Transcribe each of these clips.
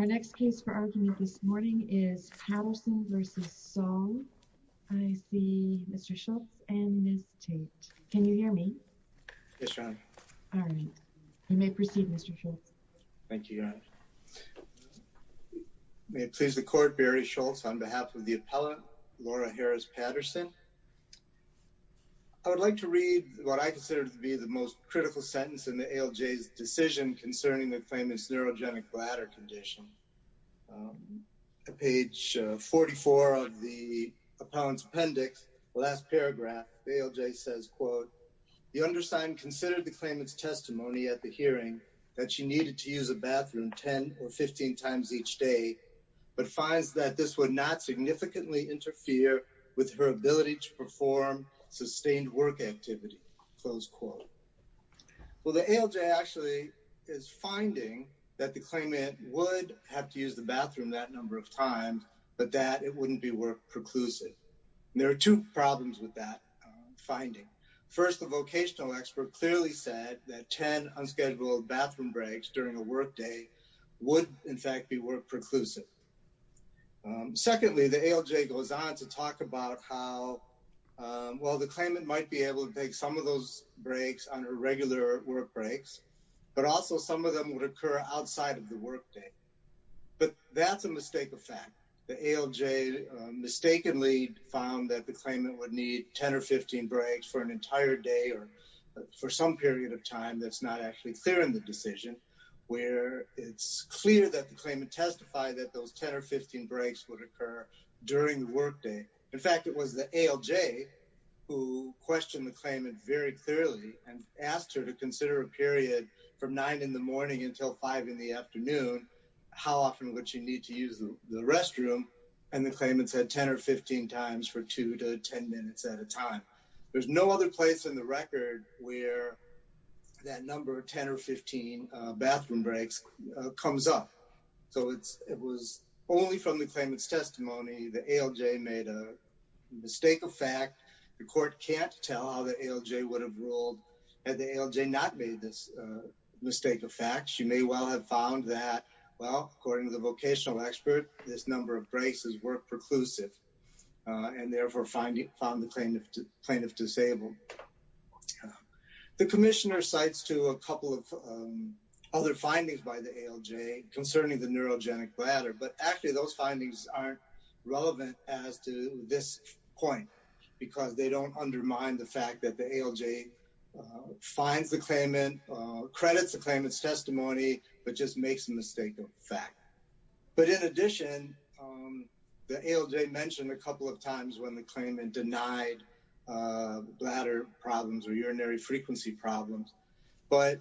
Our next case for argument this morning is Patterson v. Song. I see Mr. Schultz and Ms. Tate. Can you hear me? Yes, Your Honor. All right. You may proceed, Mr. Schultz. Thank you, Your Honor. May it please the Court, Barry Schultz, on behalf of the appellant, Laura Harris Patterson. I would like to read what I consider to be the most critical sentence in the ALJ's decision concerning the claimant's neurogenic bladder condition. On page 44 of the appellant's appendix, the last paragraph, the ALJ says, quote, The undersigned considered the claimant's testimony at the hearing that she needed to use a bathroom 10 or 15 times each day, but finds that this would not significantly interfere with her ability to perform sustained work activity, close quote. Well, the ALJ actually is finding that the claimant would have to use the bathroom that number of times, but that it wouldn't be work-preclusive. There are two problems with that finding. First, the vocational expert clearly said that 10 unscheduled bathroom breaks during a workday would, in fact, be work-preclusive. Secondly, the ALJ goes on to talk about how, well, the claimant might be able to take some of those breaks on her regular work breaks, but also some of them would occur outside of the workday. But that's a mistake of fact. The ALJ mistakenly found that the claimant would need 10 or 15 breaks for an entire day or for some period of time that's not actually clear in the decision, where it's clear that the claimant testified that those 10 or 15 breaks would occur during the workday. In fact, it was the ALJ who questioned the claimant very clearly and asked her to consider a period from 9 in the morning until 5 in the afternoon, how often would she need to use the restroom, and the claimant said 10 or 15 times for 2 to 10 minutes at a time. There's no other place in the record where that number of 10 or 15 bathroom breaks comes up. So it was only from the claimant's testimony the ALJ made a mistake of fact. The court can't tell how the ALJ would have ruled had the ALJ not made this mistake of fact. She may well have found that, well, according to the vocational expert, this number of breaks is work-preclusive, and therefore found the plaintiff disabled. The commissioner cites to a couple of other findings by the ALJ concerning the neurogenic bladder, but actually those findings aren't relevant as to this point because they don't undermine the fact that the ALJ finds the claimant, credits the claimant's testimony, but just makes a mistake of fact. But in addition, the ALJ mentioned a couple of times when the claimant denied bladder problems or urinary frequency problems, but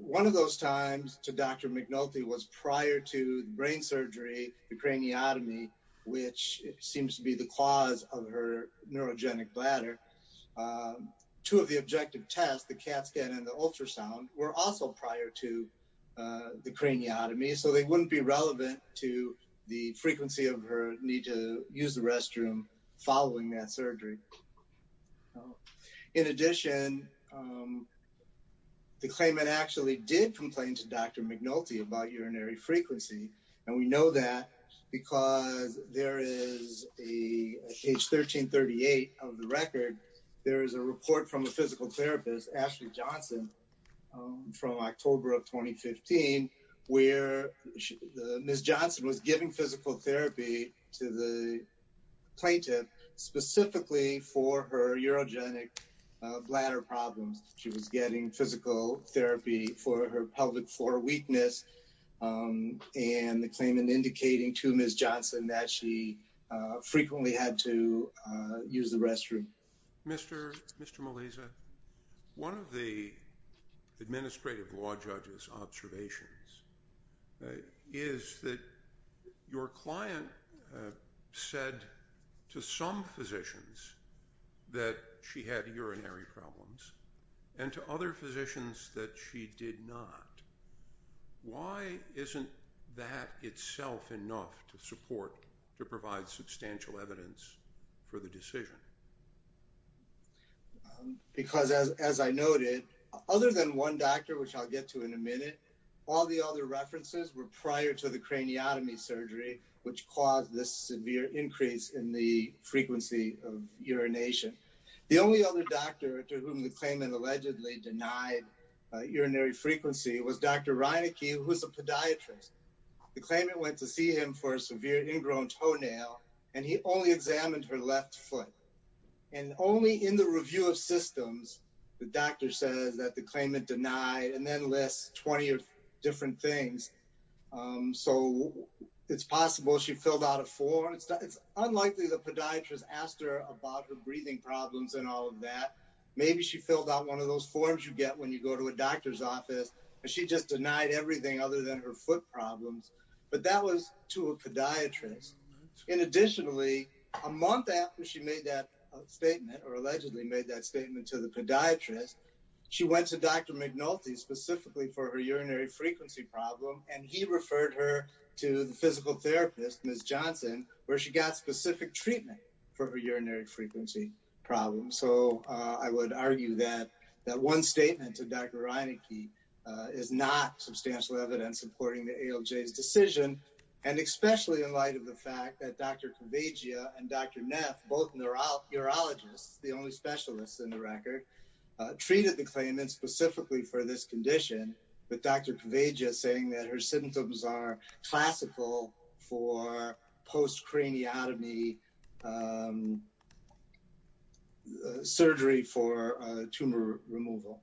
one of those times to Dr. McNulty was prior to brain surgery, the craniotomy, which seems to be the cause of her neurogenic bladder. Two of the objective tests, the CAT scan and the ultrasound, were also prior to the craniotomy, so they wouldn't be relevant to the frequency of her need to use the restroom following that surgery. In addition, the claimant actually did complain to Dr. McNulty about urinary frequency, and we know that because there is a, page 1338 of the record, there is a report from a physical therapist, Ashley Johnson, from October of 2015, where Ms. Johnson was giving physical therapy to the plaintiff specifically for her neurogenic bladder problems. She was getting physical therapy for her pelvic floor weakness, and the claimant indicating to Ms. Johnson that she frequently had to use the restroom. Mr. Maliza, one of the administrative law judge's observations is that your client said to some physicians that she had urinary problems and to other physicians that she did not. Why isn't that itself enough to support, to provide substantial evidence for the decision? Because as I noted, other than one doctor, which I'll get to in a minute, all the other references were prior to the craniotomy surgery, which caused this severe increase in the frequency of urination. The only other doctor to whom the claimant allegedly denied urinary frequency was Dr. Reinicke, who was a podiatrist. The claimant went to see him for a severe ingrown toenail, and he only examined her left foot. And only in the review of systems, the doctor says that the claimant denied, and then lists 20 different things. So it's possible she filled out a form. It's unlikely the podiatrist asked her about her breathing problems and all of that. Maybe she filled out one of those forms you get when you go to a doctor's office, and she just denied everything other than her foot problems. But that was to a podiatrist. And additionally, a month after she made that statement, or allegedly made that statement to the podiatrist, she went to Dr. McNulty specifically for her urinary frequency problem, and he referred her to the physical therapist, Ms. Johnson, where she got specific treatment for her urinary frequency problem. So I would argue that that one statement to Dr. Reinicke is not substantial evidence supporting the ALJ's decision. And especially in light of the fact that Dr. Kavagia and Dr. Neff, both urologists, the only specialists in the record, treated the claimant specifically for this condition, with Dr. Kavagia saying that her symptoms are classical for post-craniotomy surgery for tumor removal.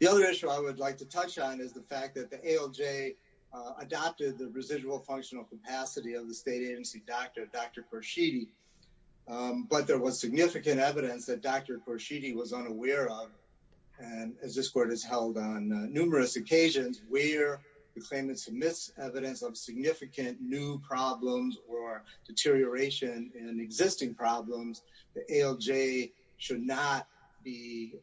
The other issue I would like to touch on is the fact that the ALJ adopted the residual functional capacity of the state agency doctor, Dr. Korshidi. But there was significant evidence that Dr. Korshidi was unaware of. And as this court has held on numerous occasions, where the claimant submits evidence of significant new problems or deterioration in existing problems, the ALJ should not be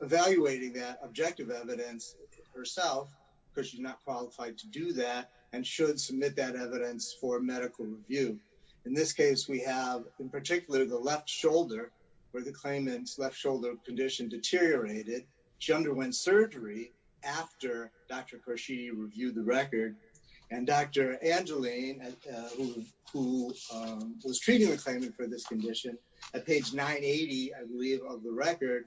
evaluating that objective evidence herself, because she's not qualified to do that, and should submit that evidence for medical review. In this case, we have, in particular, the left shoulder, where the claimant's left shoulder condition deteriorated. She underwent surgery after Dr. Korshidi reviewed the record. And Dr. Angeline, who was treating the claimant for this condition, at page 980, I believe, of the record,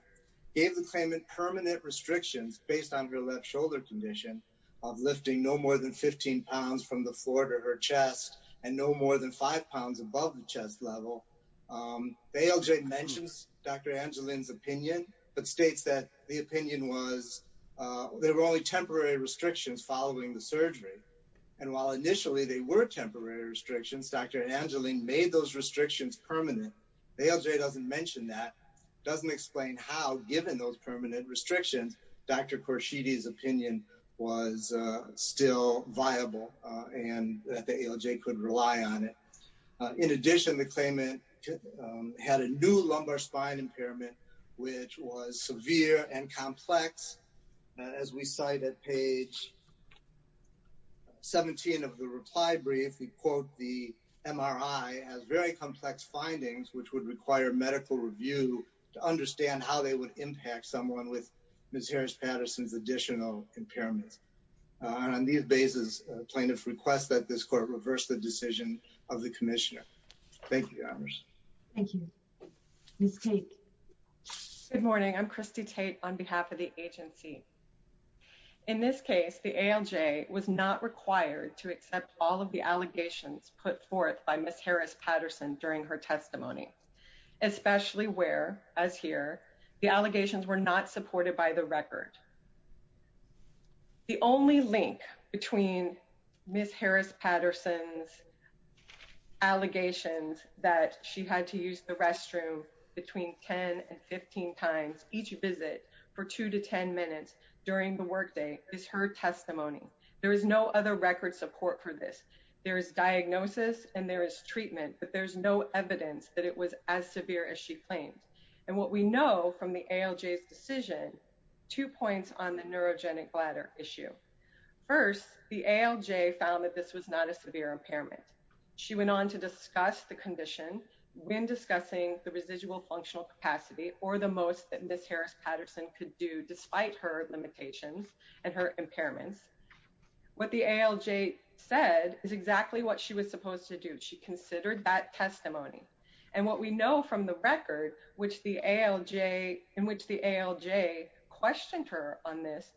gave the claimant permanent restrictions based on her left shoulder condition of lifting no more than 15 pounds from the floor to her chest, and no more than 5 pounds above the chest level. The ALJ mentions Dr. Angeline's opinion, but states that the opinion was there were only temporary restrictions following the surgery. And while initially they were temporary restrictions, Dr. Angeline made those restrictions permanent. The ALJ doesn't mention that, doesn't explain how, given those permanent restrictions, Dr. Korshidi's opinion was still viable, and that the ALJ could rely on it. In addition, the claimant had a new lumbar spine impairment, which was severe and complex. As we cite at page 17 of the reply brief, we quote the MRI as very complex findings, which would require medical review to understand how they would impact someone with Ms. Harris-Patterson's additional impairments. On these basis, plaintiffs request that this court reverse the decision of the commissioner. Thank you, Your Honors. Thank you. Ms. Tate. Good morning, I'm Christy Tate on behalf of the agency. In this case, the ALJ was not required to accept all of the allegations put forth by Ms. Harris-Patterson during her testimony, especially where, as here, the allegations were not supported by the record. The only link between Ms. Harris-Patterson's allegations that she had to use the restroom between 10 and 15 times each visit for 2 to 10 minutes during the workday is her testimony. There is no other record support for this. There is diagnosis and there is treatment, but there's no evidence that it was as severe as she claimed. And what we know from the ALJ's decision, two points on the neurogenic bladder issue. First, the ALJ found that this was not a severe impairment. She went on to discuss the condition when discussing the residual functional capacity or the most that Ms. Harris-Patterson could do despite her limitations and her impairments. What the ALJ said is exactly what she was supposed to do. She considered that testimony. And what we know from the record in which the ALJ questioned her on this,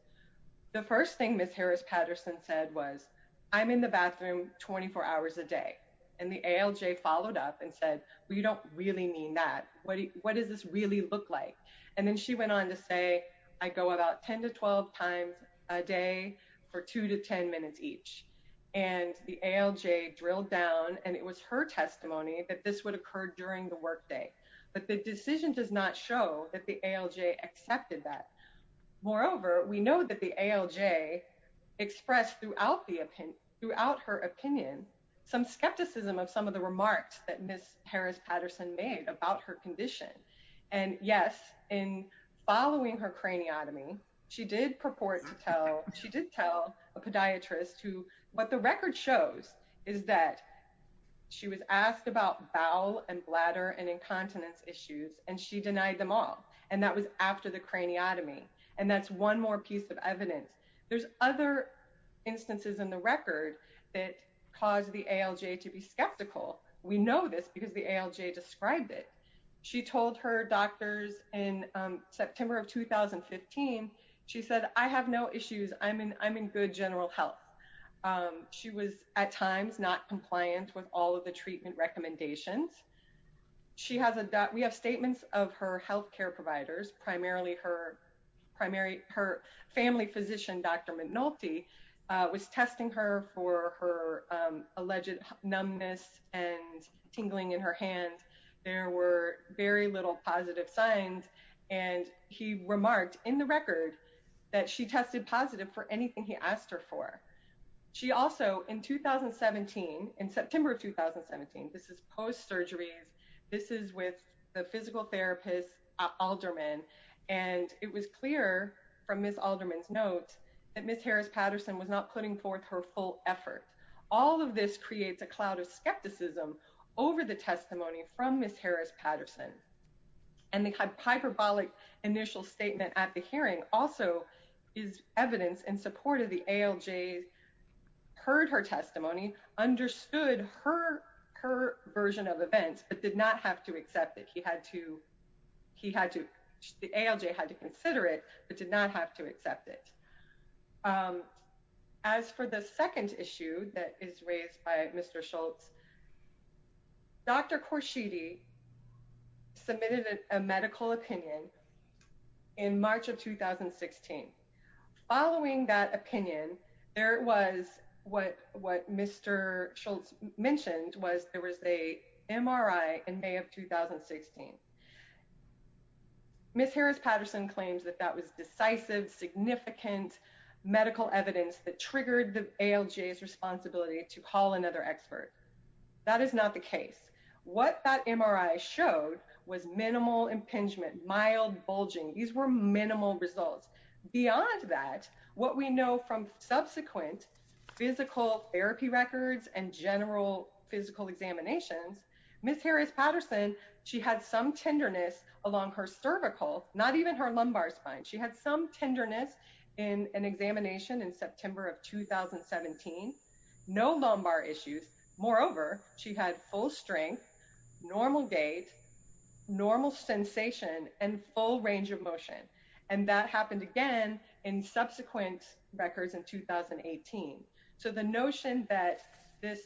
the first thing Ms. Harris-Patterson said was, I'm in the bathroom 24 hours a day. And the ALJ followed up and said, we don't really mean that. What does this really look like? And then she went on to say, I go about 10 to 12 times a day for 2 to 10 minutes each. And the ALJ drilled down and it was her testimony that this would occur during the workday. But the decision does not show that the ALJ accepted that. Moreover, we know that the ALJ expressed throughout her opinion some skepticism of some of the remarks that Ms. Harris-Patterson made about her condition. And yes, in following her craniotomy, she did purport to tell, she did tell a podiatrist who, what the record shows is that she was asked about bowel and bladder and incontinence issues and she denied them all. And that was after the craniotomy. And that's one more piece of evidence. There's other instances in the record that caused the ALJ to be skeptical. We know this because the ALJ described it. She told her doctors in September of 2015, she said, I have no issues. I'm in good general health. She was at times not compliant with all of the treatment recommendations. We have statements of her healthcare providers, primarily her family physician, Dr. McNulty, was testing her for her alleged numbness and tingling in her hand. There were very little positive signs. And he remarked in the record that she tested positive for anything he asked her for. She also, in 2017, in September of 2017, this is post-surgery. This is with the physical therapist, Alderman. And it was clear from Ms. Alderman's note that Ms. Harris-Patterson was not putting forth her full effort. All of this creates a cloud of skepticism over the testimony from Ms. Harris-Patterson. And the hyperbolic initial statement at the hearing also is evidence in support of the ALJ's, heard her testimony, understood her version of events, but did not have to accept it. He had to, he had to, the ALJ had to consider it, but did not have to accept it. As for the second issue that is raised by Mr. Schultz, Dr. Korshidi submitted a medical opinion in March of 2016. Following that opinion, there was what Mr. Schultz mentioned was there was a MRI in May of 2016. Ms. Harris-Patterson claims that that was decisive, significant medical evidence that triggered the ALJ's responsibility to call another expert. That is not the case. What that MRI showed was minimal impingement, mild bulging. These were minimal results. Beyond that, what we know from subsequent physical therapy records and general physical examinations, Ms. Harris-Patterson, she had some tenderness along her cervical, not even her lumbar spine. She had some tenderness in an examination in September of 2017. No lumbar issues. Moreover, she had full strength, normal gait, normal sensation, and full range of motion. And that happened again in subsequent records in 2018. So the notion that this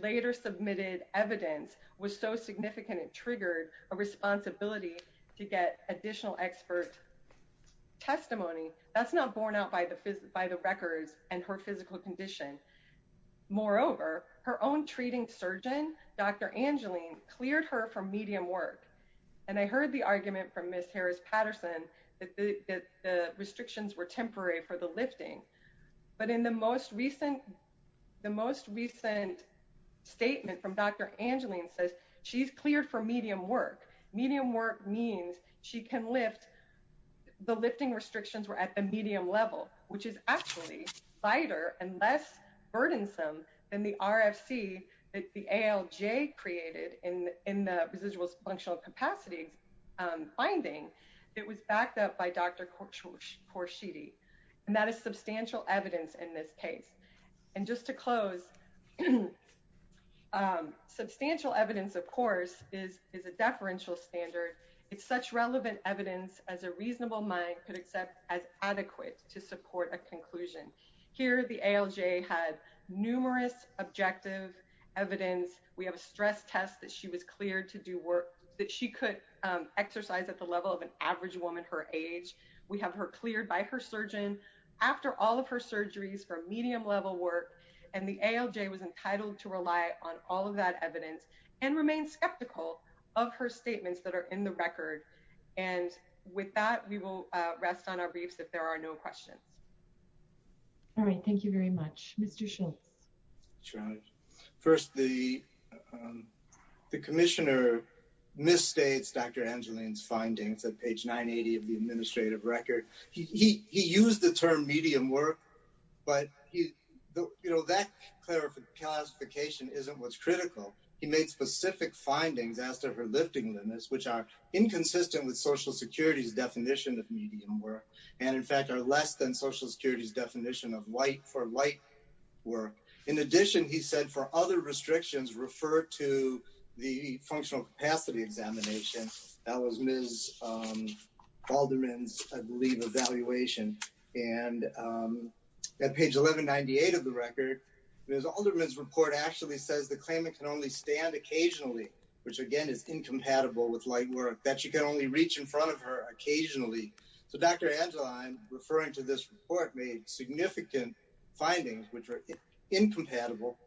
later submitted evidence was so significant it triggered a responsibility to get additional expert testimony, that's not borne out by the records and her physical condition. Moreover, her own treating surgeon, Dr. Angeline, cleared her for medium work. And I heard the argument from Ms. Harris-Patterson that the restrictions were temporary for the lifting. But in the most recent statement from Dr. Angeline says she's cleared for medium work. Medium work means she can lift. The lifting restrictions were at the medium level, which is actually lighter and less burdensome than the RFC that the ALJ created in the residual functional capacity finding that was backed up by Dr. Korshidi. And that is substantial evidence in this case. And just to close, substantial evidence, of course, is a deferential standard. It's such relevant evidence as a reasonable mind could accept as adequate to support a conclusion. Here the ALJ had numerous objective evidence. We have a stress test that she was cleared to do work that she could exercise at the level of an average woman her age. We have her cleared by her surgeon. After all of her surgeries for medium level work. And the ALJ was entitled to rely on all of that evidence and remain skeptical of her statements that are in the record. And with that, we will rest on our briefs if there are no questions. All right. Thank you very much, Mr. Schultz. First, the commissioner misstates Dr. Angeline's findings at page 980 of the administrative record. He used the term medium work, but, you know, that clarification isn't what's critical. He made specific findings as to her lifting limits, which are inconsistent with Social Security's definition of medium work. And, in fact, are less than Social Security's definition of light for light work. In addition, he said for other restrictions, refer to the functional capacity examination. That was Ms. Alderman's, I believe, evaluation. And at page 1198 of the record, Ms. Alderman's report actually says the claimant can only stand occasionally. Which, again, is incompatible with light work. That she can only reach in front of her occasionally. So Dr. Angeline, referring to this report, made significant findings which are incompatible.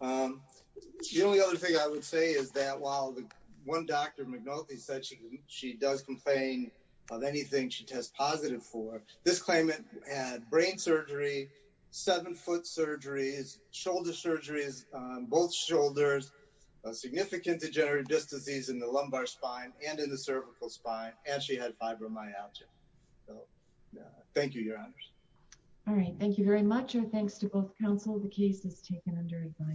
The only other thing I would say is that while one Dr. McNulty said she does complain of anything she tests positive for, this claimant had brain surgery, seven-foot surgeries, shoulder surgeries, both shoulders, significant degenerative disc disease in the lumbar spine and in the cervical spine, and she had fibromyalgia. Thank you, Your Honors. All right. Thank you very much. Your Honor, thanks to both counsel, the case is taken under advice.